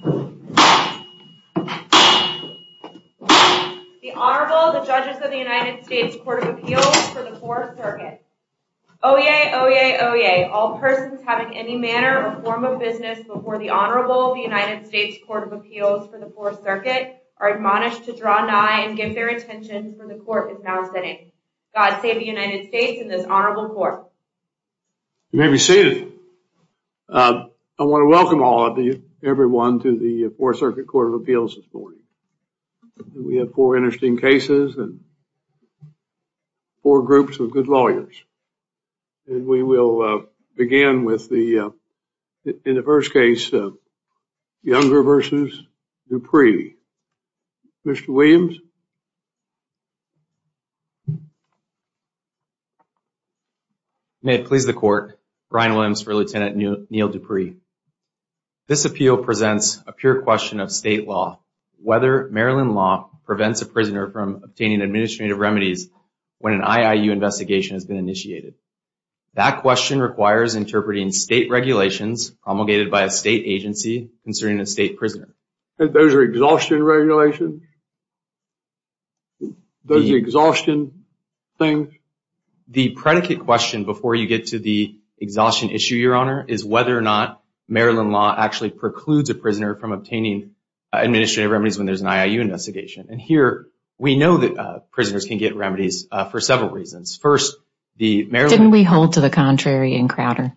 The Honorable, the Judges of the United States Court of Appeals for the 4th Circuit. Oyez, oyez, oyez, all persons having any manner or form of business before the Honorable of the United States Court of Appeals for the 4th Circuit are admonished to draw nigh and give their attention where the Court is now sitting. God save the United States and this Honorable Court. You may be seated. I want to welcome everyone to the 4th Circuit Court of Appeals this morning. We have four interesting cases and four groups of good lawyers. We will begin with the, in the first case, Younger v. Dupree. Mr. Williams? You may have pleased the Court. Brian Williams for Lieutenant Neil Dupree. This appeal presents a pure question of state law, whether Maryland law prevents a prisoner from obtaining administrative remedies when an IIU investigation has been initiated. That question requires interpreting state regulations promulgated by a state agency concerning a state prisoner. Those are exhaustion regulations? Those are exhaustion things? The predicate question before you get to the exhaustion issue, Your Honor, is whether or not Maryland law actually precludes a prisoner from obtaining administrative remedies when there's an IIU investigation. And here, we know that prisoners can get remedies for several reasons. First, the Maryland... Didn't we hold to the contrary in Crowder?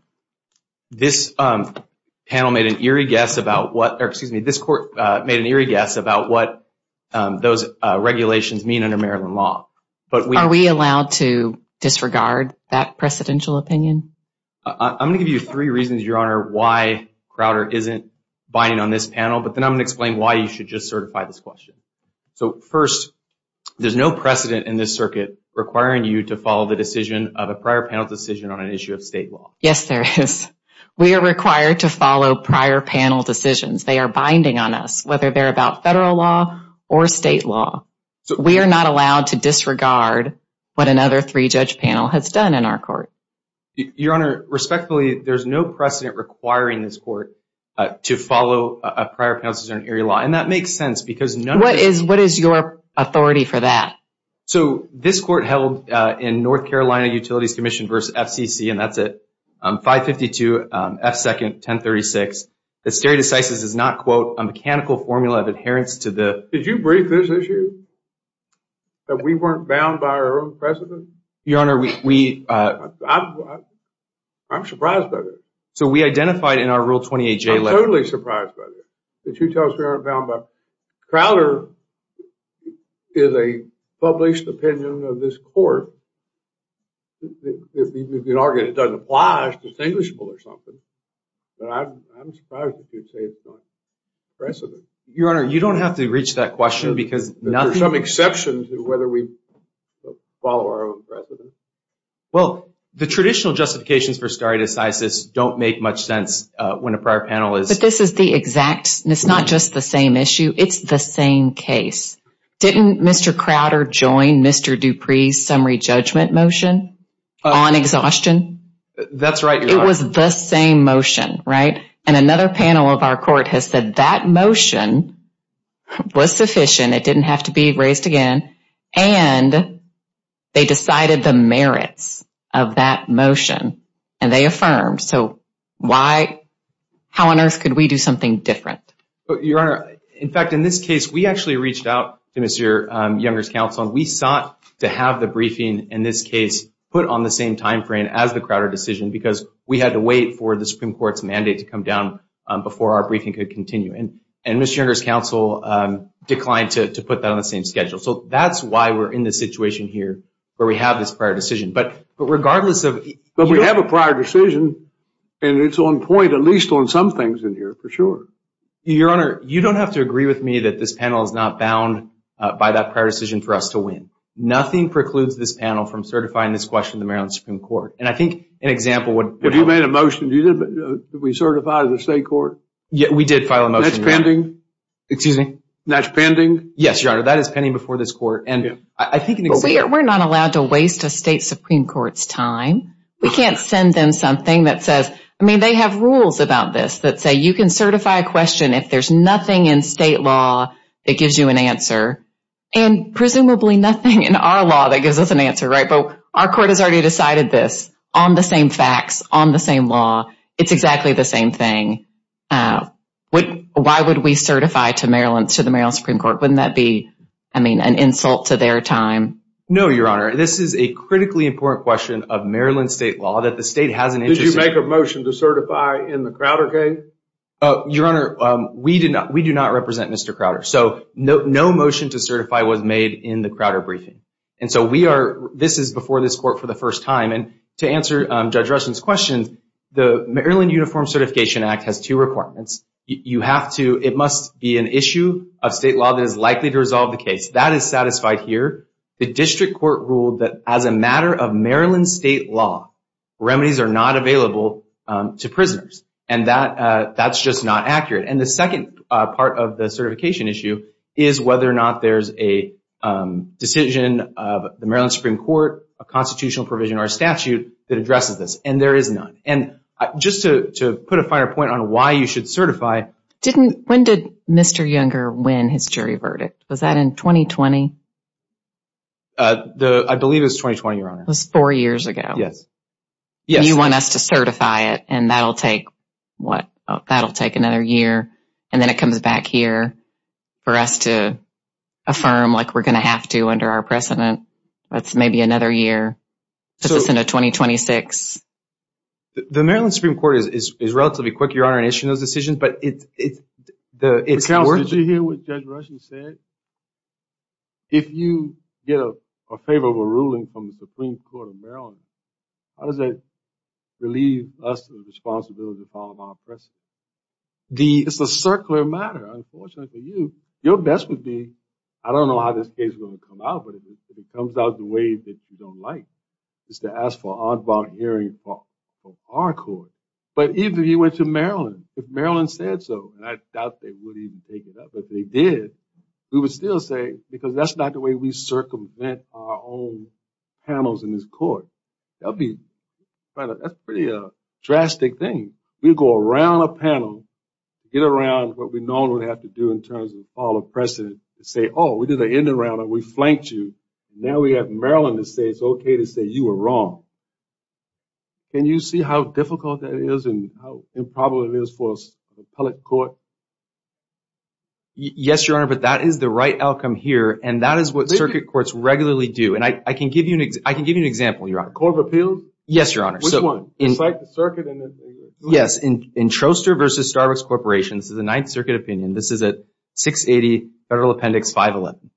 This panel made an eerie guess about what, or excuse me, this Court made an eerie guess about what those regulations mean under Maryland law. But we... Are we allowed to disregard that precedential opinion? I'm going to give you three reasons, Your Honor, why Crowder isn't binding on this panel, but then I'm going to explain why you should just certify this question. So first, there's no precedent in this circuit requiring you to follow the decision of a prior panel decision on an issue of state law. Yes, there is. We are required to follow prior panel decisions. They are binding on us, whether they're about federal law or state law. We are not allowed to disregard what another three-judge panel has done in our court. Your Honor, respectfully, there's no precedent requiring this court to follow a prior panel decision on area law. And that makes sense because none of this... What is your authority for that? So this court held in North Carolina Utilities Commission v. FCC, and that's at 552 F. 2nd, 1036, that stare decisis is not, quote, a mechanical formula of adherence to the... Did you brief this issue? That we weren't bound by our own precedent? Your Honor, we... I'm surprised by this. So we identified in our Rule 28J letter... I'm totally surprised by this. That you tell us we aren't bound by... Crowder is a published opinion of this court. If you'd argue it doesn't apply, it's distinguishable or something. But I'm surprised that you'd say it's not precedent. Your Honor, you don't have to reach that question because nothing... There's some exceptions to whether we follow our own precedent. Well, the traditional justifications for stare decisis don't make much sense when a prior panel is... Because this is the exact... It's not just the same issue. It's the same case. Didn't Mr. Crowder join Mr. Dupree's summary judgment motion on exhaustion? That's right, Your Honor. It was the same motion, right? And another panel of our court has said that motion was sufficient. It didn't have to be raised again. And they decided the merits of that motion, and they affirmed. So how on earth could we do something different? Your Honor, in fact, in this case, we actually reached out to Mr. Younger's counsel. We sought to have the briefing in this case put on the same timeframe as the Crowder decision because we had to wait for the Supreme Court's mandate to come down before our briefing could continue. And Mr. Younger's counsel declined to put that on the same schedule. So that's why we're in this situation here where we have this prior decision. But regardless of... And it's on point, at least on some things in here, for sure. Your Honor, you don't have to agree with me that this panel is not bound by that prior decision for us to win. Nothing precludes this panel from certifying this question to the Maryland Supreme Court. And I think an example would... Have you made a motion? Did we certify to the state court? Yeah, we did file a motion. That's pending? Excuse me? That's pending? Yes, Your Honor, that is pending before this court. And I think an example... We're not allowed to waste a state Supreme Court's time. We can't send them something that says... I mean, they have rules about this that say you can certify a question if there's nothing in state law that gives you an answer. And presumably nothing in our law that gives us an answer, right? But our court has already decided this on the same facts, on the same law. It's exactly the same thing. Why would we certify to the Maryland Supreme Court? Wouldn't that be, I mean, an insult to their time? No, Your Honor. This is a critically important question of Maryland state law that the state has an interest in. Did you make a motion to certify in the Crowder case? Your Honor, we do not represent Mr. Crowder. So, no motion to certify was made in the Crowder briefing. And so we are... This is before this court for the first time. And to answer Judge Rustin's question, the Maryland Uniform Certification Act has two requirements. You have to... It must be an issue of state law that is likely to resolve the case. That is satisfied here. The district court ruled that as a matter of Maryland state law, remedies are not available to prisoners. And that's just not accurate. And the second part of the certification issue is whether or not there's a decision of the Maryland Supreme Court, a constitutional provision or a statute that addresses this. And there is none. And just to put a finer point on why you should certify... When did Mr. Younger win his jury verdict? Was that in 2020? I believe it was 2020, Your Honor. It was four years ago. Yes. You want us to certify it and that'll take another year. And then it comes back here for us to affirm like we're going to have to under our precedent. That's maybe another year. Let's just end at 2026. The Maryland Supreme Court is relatively quick, Your Honor, in issuing those decisions. But it's worth... Counsel, did you hear what Judge Rustin said? If you get a favorable ruling from the Supreme Court of Maryland, how does that relieve us of the responsibility to follow our precedent? It's a circular matter. Unfortunately for you, your best would be... I don't know how this case is going to come out, but if it comes out the way that you don't like, is to ask for an on bond hearing from our court. But even if you went to Maryland, if Maryland said so, and I doubt they would even take it up, but they did, we would still say... Because that's not the way we circumvent our own panels in this court. That'd be... That's pretty drastic thing. We'd go around a panel, get around what we normally have to do in terms of follow precedent, and say, oh, we did an in the round and we flanked you. Now we have Maryland to say it's okay to say you were wrong. Can you see how difficult that is and how improbable it is for an appellate court? Yes, Your Honor, but that is the right outcome here, and that is what circuit courts regularly do. I can give you an example, Your Honor. Court of Appeals? Yes, Your Honor. Which one? The circuit? Yes. In Troster v. Starbucks Corporation, this is a Ninth Circuit opinion. This is a 680 Federal Appendix 511.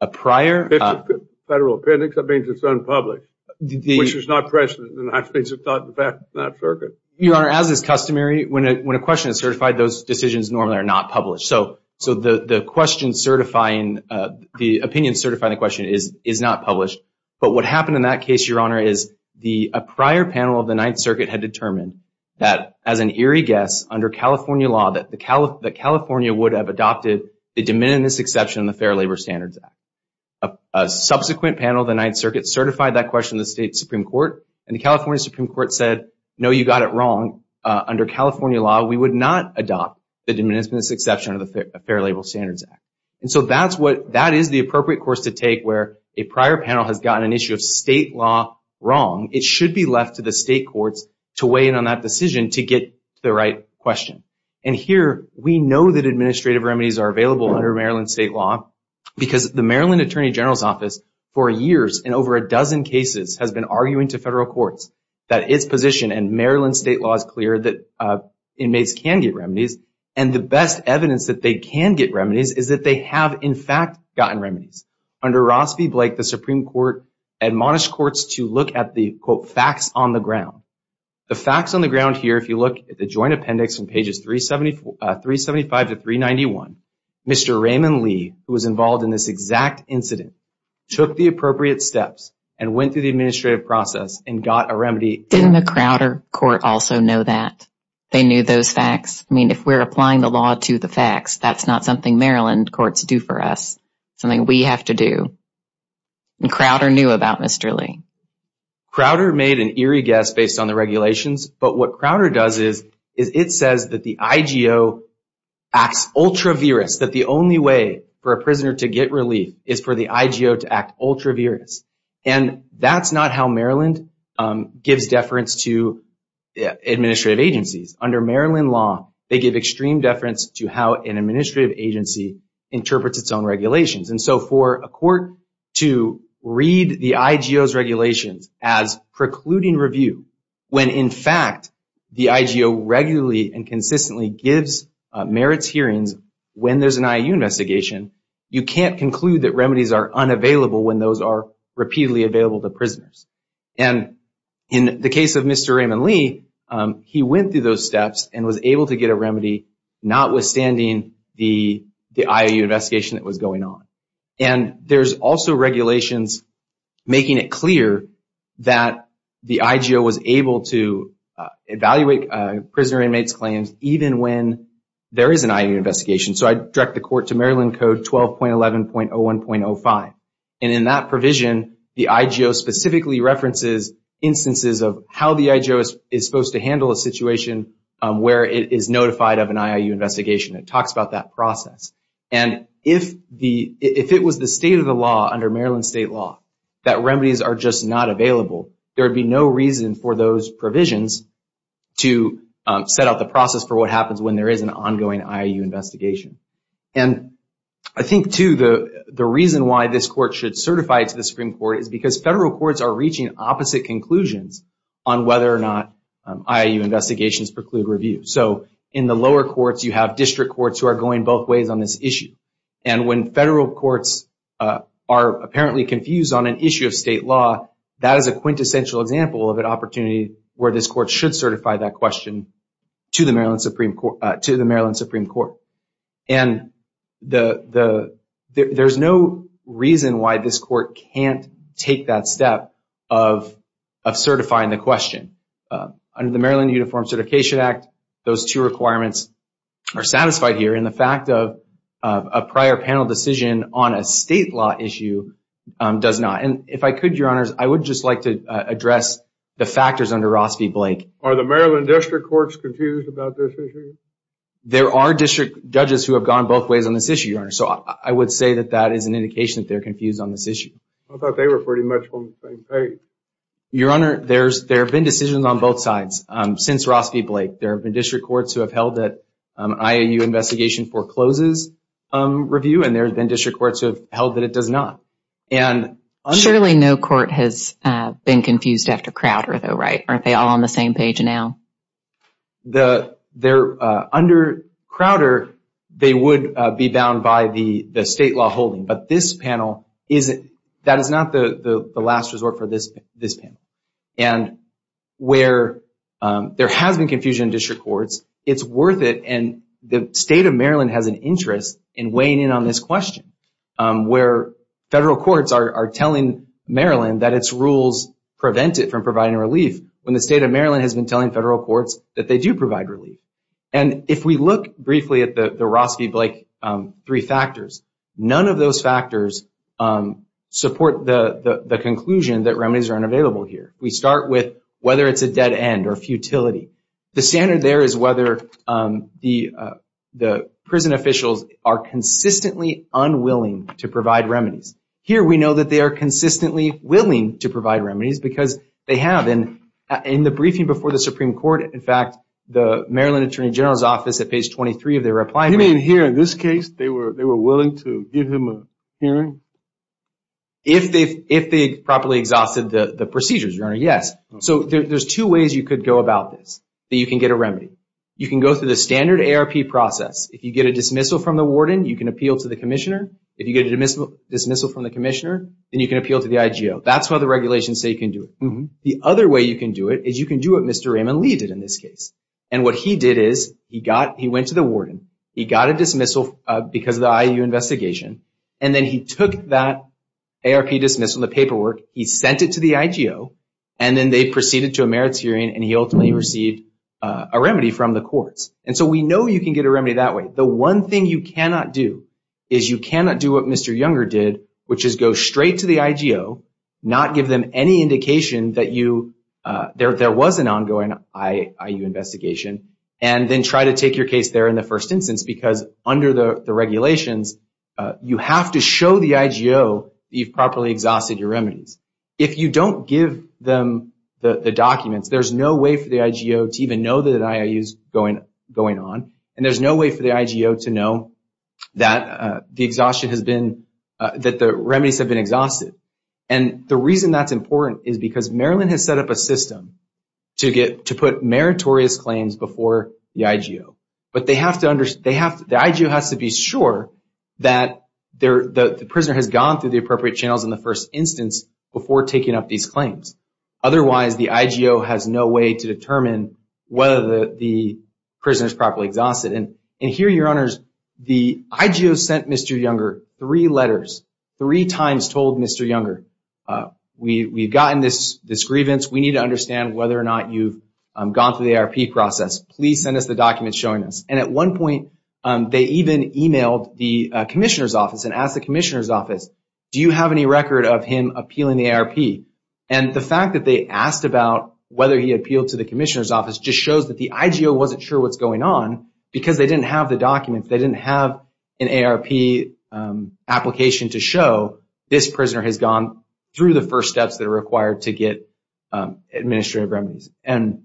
A prior... Federal Appendix? That means it's unpublished, which is not precedent. That means it's not in effect in that circuit. Your Honor, as is customary, when a question is certified, those decisions normally are not published. So the question certifying, the opinion certifying the question is not published. But what happened in that case, Your Honor, is a prior panel of the Ninth Circuit had determined that, as an eerie guess, under California law, that California would have adopted the Diminutiveness Exception in the Fair Labor Standards Act. A subsequent panel of the Ninth Circuit certified that question to the State Supreme Court, and the California Supreme Court said, no, you got it wrong. Under California law, we would not adopt the Diminutiveness Exception under the Fair Labor Standards Act. And so that is the appropriate course to take where a prior panel has gotten an issue of state law wrong. It should be left to the state courts to weigh in on that decision to get the right question. And here, we know that administrative remedies are available under Maryland state law because the Maryland Attorney General's Office, for years, in over a dozen cases, has been arguing to federal courts that its position in Maryland state law is clear that inmates can get remedies. And the best evidence that they can get remedies is that they have, in fact, gotten remedies. Under Ross v. Blake, the Supreme Court admonished courts to look at the, quote, facts on the ground. The facts on the ground here, if you look at the joint appendix in pages 375 to 391, Mr. Raymond Lee, who was involved in this exact incident, took the appropriate steps and went through the administrative process and got a remedy. Didn't the Crowder court also know that? They knew those facts? I mean, if we're applying the law to the facts, that's not something Maryland courts do for us, something we have to do. And Crowder knew about Mr. Lee. Crowder made an eerie guess based on the regulations. But what Crowder does is it says that the IGO acts ultra-virus, that the only way for a prisoner to get relief is for the IGO to act ultra-virus. And that's not how Maryland gives deference to administrative agencies. Under Maryland law, they give extreme deference to how an administrative agency interprets its own regulations. And so for a court to read the IGO's regulations as precluding review, when in fact the IGO regularly and consistently gives merits hearings when there's an IOU investigation, you can't conclude that remedies are unavailable when those are repeatedly available to prisoners. And in the case of Mr. Raymond Lee, he went through those steps and was able to get a remedy, notwithstanding the IOU investigation that was going on. And there's also regulations making it clear that the IGO was able to evaluate prisoner inmates' claims even when there is an IOU investigation. So I direct the court to Maryland Code 12.11.01.05. And in that provision, the IGO specifically references instances of how the IGO is supposed to handle a situation where it is notified of an IOU investigation. It talks about that process. And if it was the state of the law under Maryland state law that remedies are just not available, there would be no reason for those provisions to set out the process for what happens when there is an ongoing IOU investigation. And I think, too, the reason why this court should certify it to the Supreme Court is because federal courts are reaching opposite conclusions on whether or not IOU investigations preclude review. So in the lower courts, you have district courts who are going both ways on this issue. And when federal courts are apparently confused on an issue of state law, that is a quintessential example of an opportunity where this court should certify that question to the Maryland Supreme Court. And there's no reason why this court can't take that step of certifying the question. Under the Maryland Uniform Certification Act, those two requirements are satisfied here. And the fact of a prior panel decision on a state law issue does not. And if I could, Your Honors, I would just like to address the factors under Ross v. Blake. Are the Maryland district courts confused about this issue? There are district judges who have gone both ways on this issue, Your Honor. So I would say that that is an indication that they're confused on this issue. I thought they were pretty much on the same page. Your Honor, there have been decisions on both sides since Ross v. Blake. There have been district courts who have held that an IOU investigation forecloses review, and there have been district courts who have held that it does not. Surely no court has been confused after Crowder, though, right? Aren't they all on the same page now? Under Crowder, they would be bound by the state law holding. That is not the last resort for this panel. And where there has been confusion in district courts, it's worth it. And the state of Maryland has an interest in weighing in on this question, where federal courts are telling Maryland that its rules prevent it from providing relief when the state of Maryland has been telling federal courts that they do provide relief. And if we look briefly at the Ross v. Blake three factors, none of those factors support the conclusion that remedies are unavailable here. We start with whether it's a dead end or futility. The standard there is whether the prison officials are consistently unwilling to provide remedies. Here we know that they are consistently willing to provide remedies because they have. In the briefing before the Supreme Court, in fact, the Maryland Attorney General's office, You mean here in this case, they were willing to give him a hearing? If they properly exhausted the procedures, Your Honor, yes. So there's two ways you could go about this, that you can get a remedy. You can go through the standard ARP process. If you get a dismissal from the warden, you can appeal to the commissioner. If you get a dismissal from the commissioner, then you can appeal to the IGO. That's why the regulations say you can do it. The other way you can do it is you can do what Mr. Raymond Lee did in this case. And what he did is he went to the warden, he got a dismissal because of the IU investigation, and then he took that ARP dismissal, the paperwork, he sent it to the IGO, and then they proceeded to a merits hearing, and he ultimately received a remedy from the courts. And so we know you can get a remedy that way. The one thing you cannot do is you cannot do what Mr. Younger did, which is go straight to the IGO, not give them any indication that there was an ongoing IU investigation, and then try to take your case there in the first instance because under the regulations, you have to show the IGO that you've properly exhausted your remedies. If you don't give them the documents, there's no way for the IGO to even know that an IOU is going on, and there's no way for the IGO to know that the remedies have been exhausted. And the reason that's important is because Maryland has set up a system to put meritorious claims before the IGO. But the IGO has to be sure that the prisoner has gone through the appropriate channels in the first instance before taking up these claims. Otherwise, the IGO has no way to determine whether the prisoner is properly exhausted. And here, Your Honors, the IGO sent Mr. Younger three letters, three times told Mr. Younger, we've gotten this grievance, we need to understand whether or not you've gone through the ARP process. Please send us the documents showing this. And at one point, they even emailed the commissioner's office and asked the commissioner's office, do you have any record of him appealing the ARP? And the fact that they asked about whether he appealed to the commissioner's office just shows that the IGO wasn't sure what's going on because they didn't have the documents. They didn't have an ARP application to show this prisoner has gone through the first steps that are required to get administrative remedies. And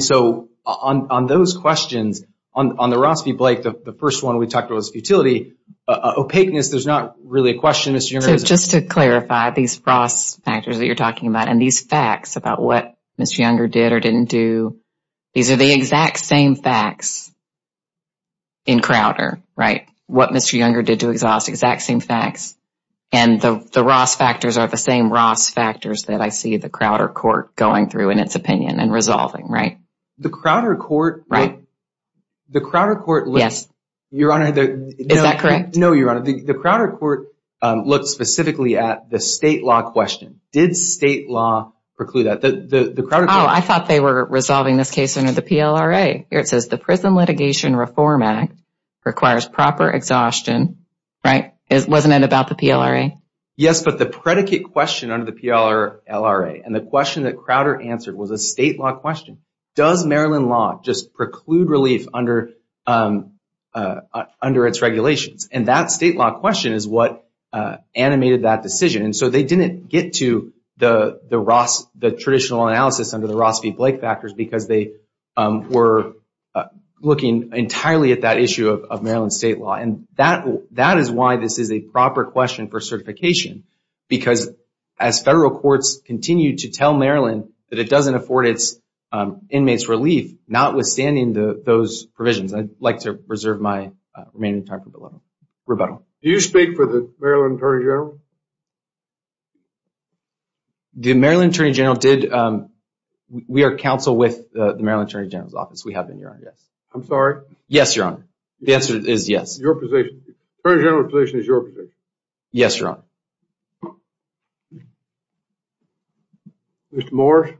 so on those questions, on the Ross v. Blake, the first one we talked about was futility. Opaqueness, there's not really a question, Mr. Younger. So just to clarify, these Ross factors that you're talking about and these facts about what Mr. Younger did or didn't do, these are the exact same facts in Crowder, right? What Mr. Younger did to exhaust, exact same facts. And the Ross factors are the same Ross factors that I see the Crowder court going through in its opinion and resolving, right? The Crowder court. Right. The Crowder court. Yes. Your Honor. Is that correct? No, Your Honor. The Crowder court looked specifically at the state law question. Did state law preclude that? The Crowder court. Oh, I thought they were resolving this case under the PLRA. Here it says the Prison Litigation Reform Act requires proper exhaustion, right? Wasn't it about the PLRA? Yes, but the predicate question under the PLRA and the question that Crowder answered was a state law question. Does Maryland law just preclude relief under its regulations? And that state law question is what animated that decision. And so they didn't get to the traditional analysis under the Ross v. Blake factors because they were looking entirely at that issue of Maryland state law. And that is why this is a proper question for certification. Because as federal courts continue to tell Maryland that it doesn't afford its inmates relief, notwithstanding those provisions, I'd like to reserve my remaining time for rebuttal. Do you speak for the Maryland Attorney General? The Maryland Attorney General did. We are counsel with the Maryland Attorney General's office. We have been, Your Honor. I'm sorry? Yes, Your Honor. The answer is yes. Your position? The Attorney General's position is your position? Yes, Your Honor. Mr. Morse?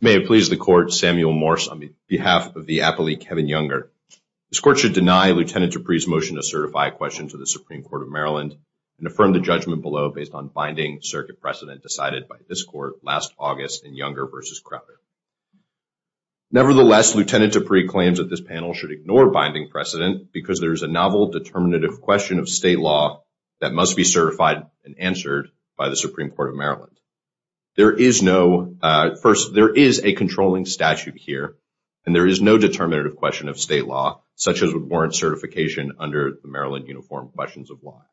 May it please the Court, Samuel Morse on behalf of the appellee Kevin Younger. This court should deny Lieutenant Dupree's motion to certify a question to the Supreme Court of Maryland and affirm the judgment below based on binding circuit precedent decided by this court last August in Younger v. Crowder. Nevertheless, Lieutenant Dupree claims that this panel should ignore binding precedent because there is a novel determinative question of state law that must be certified and answered by the Supreme Court of Maryland. First, there is a controlling statute here, and there is no determinative question of state law such as would warrant certification under the Maryland Uniform Questions of Law Act.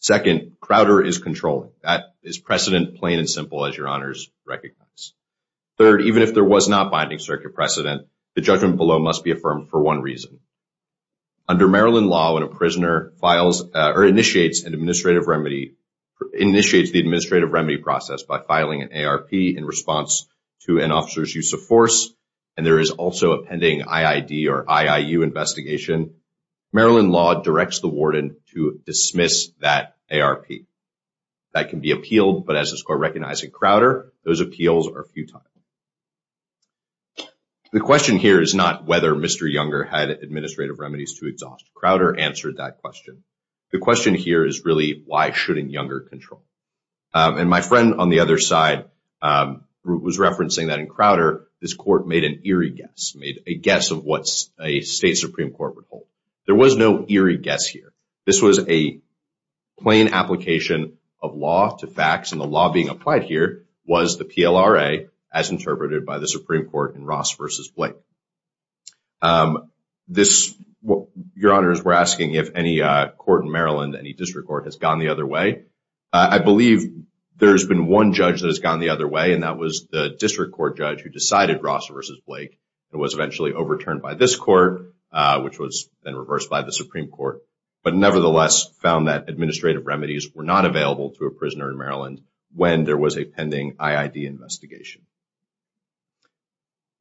Second, Crowder is controlling. That is precedent, plain and simple, as Your Honors recognize. Third, even if there was not binding circuit precedent, the judgment below must be affirmed for one reason. Under Maryland law, when a prisoner initiates the administrative remedy process by filing an ARP in response to an officer's use of force, and there is also a pending IID or IIU investigation, Maryland law directs the warden to dismiss that ARP. That can be appealed, but as this court recognized in Crowder, those appeals are futile. The question here is not whether Mr. Younger had administrative remedies to exhaust. Crowder answered that question. The question here is really why shouldn't Younger control? And my friend on the other side was referencing that in Crowder, this court made an eerie guess, made a guess of what a state Supreme Court would hold. There was no eerie guess here. This was a plain application of law to facts, and the law being applied here was the PLRA as interpreted by the Supreme Court in Ross v. Blake. Your Honors, we're asking if any court in Maryland, any district court, has gone the other way. I believe there's been one judge that has gone the other way, and that was the district court judge who decided Ross v. Blake. It was eventually overturned by this court, which was then reversed by the Supreme Court. But nevertheless found that administrative remedies were not available to a prisoner in Maryland when there was a pending IID investigation.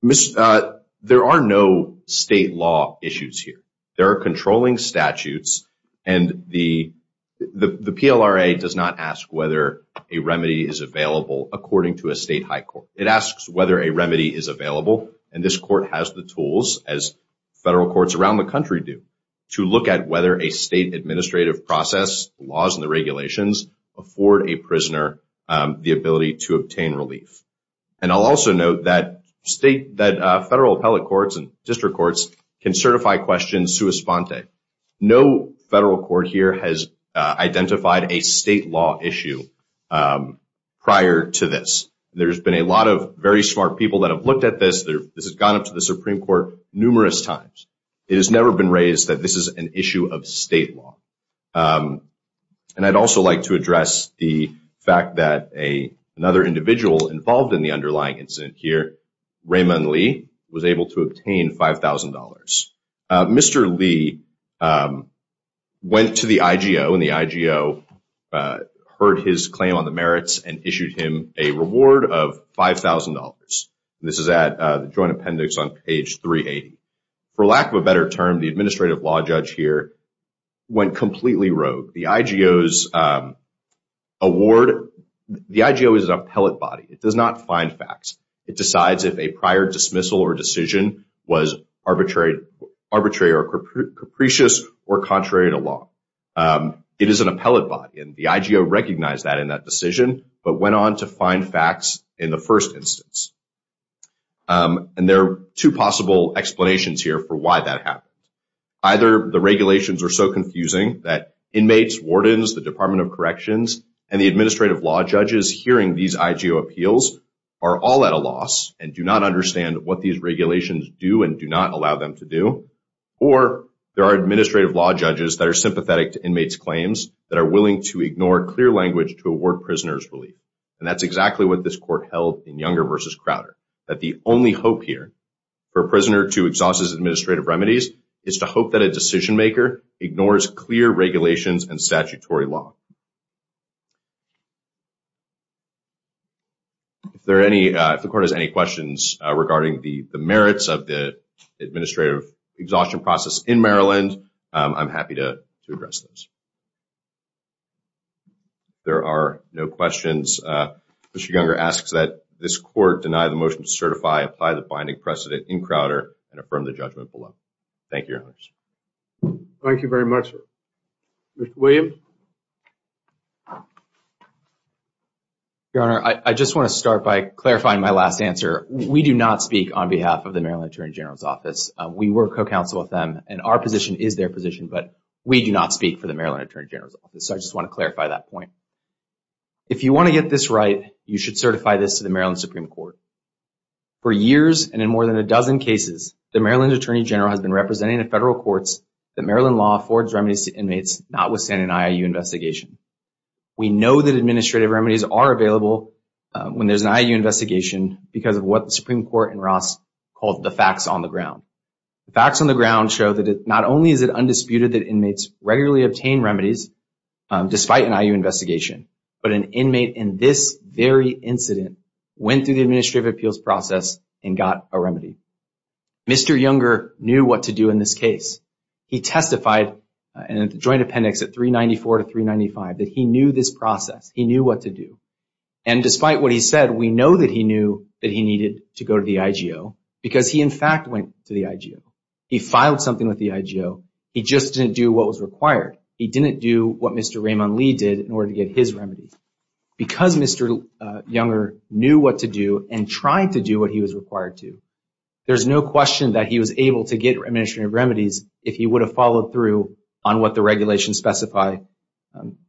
There are no state law issues here. There are controlling statutes, and the PLRA does not ask whether a remedy is available according to a state high court. It asks whether a remedy is available, and this court has the tools, as federal courts around the country do, to look at whether a state administrative process, laws and the regulations, afford a prisoner the ability to obtain relief. And I'll also note that federal appellate courts and district courts can certify questions sua sponte. No federal court here has identified a state law issue prior to this. There's been a lot of very smart people that have looked at this. This has gone up to the Supreme Court numerous times. It has never been raised that this is an issue of state law. And I'd also like to address the fact that another individual involved in the underlying incident here, Raymond Lee, was able to obtain $5,000. Mr. Lee went to the IGO, and the IGO heard his claim on the merits and issued him a reward of $5,000. This is at the joint appendix on page 380. For lack of a better term, the administrative law judge here went completely rogue. The IGO's award, the IGO is an appellate body. It does not find facts. It decides if a prior dismissal or decision was arbitrary or capricious or contrary to law. It is an appellate body, and the IGO recognized that in that decision, but went on to find facts in the first instance. And there are two possible explanations here for why that happened. Either the regulations are so confusing that inmates, wardens, the Department of Corrections, and the administrative law judges hearing these IGO appeals are all at a loss and do not understand what these regulations do and do not allow them to do, or there are administrative law judges that are sympathetic to inmates' claims that are willing to ignore clear language to award prisoners relief. And that's exactly what this court held in Younger v. Crowder, that the only hope here for a prisoner to exhaust his administrative remedies is to hope that a decision maker ignores clear regulations and statutory law. If the court has any questions regarding the merits of the administrative exhaustion process in Maryland, I'm happy to address those. If there are no questions, Mr. Younger asks that this court deny the motion to certify, apply the binding precedent in Crowder, and affirm the judgment below. Thank you, Your Honor. Thank you very much. Mr. Williams? Your Honor, I just want to start by clarifying my last answer. We do not speak on behalf of the Maryland Attorney General's Office. We were co-counsel with them, and our position is their position, but we do not speak for the Maryland Attorney General's Office. So I just want to clarify that point. If you want to get this right, you should certify this to the Maryland Supreme Court. For years and in more than a dozen cases, the Maryland Attorney General has been representing the federal courts that Maryland law affords remedies to inmates notwithstanding an I.I.U. investigation. We know that administrative remedies are available when there's an I.I.U. investigation because of what the Supreme Court in Ross called the facts on the ground. The facts on the ground show that not only is it undisputed that inmates regularly obtain remedies despite an I.I.U. investigation, but an inmate in this very incident went through the administrative appeals process and got a remedy. Mr. Younger knew what to do in this case. He testified in a joint appendix at 394 to 395 that he knew this process. He knew what to do. And despite what he said, we know that he knew that he needed to go to the I.G.O. because he, in fact, went to the I.G.O. He filed something with the I.G.O. He just didn't do what was required. He didn't do what Mr. Raymond Lee did in order to get his remedies. Because Mr. Younger knew what to do and tried to do what he was required to, there's no question that he was able to get administrative remedies if he would have followed through on what the regulations specify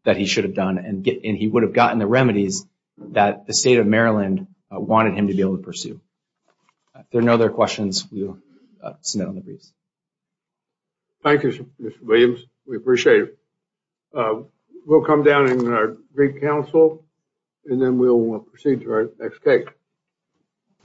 that he should have done and he would have gotten the remedies that the state of Maryland wanted him to be able to pursue. If there are no other questions, we will submit on the briefs. Thank you, Mr. Williams. We appreciate it. We'll come down in our brief counsel, and then we'll proceed to our next case.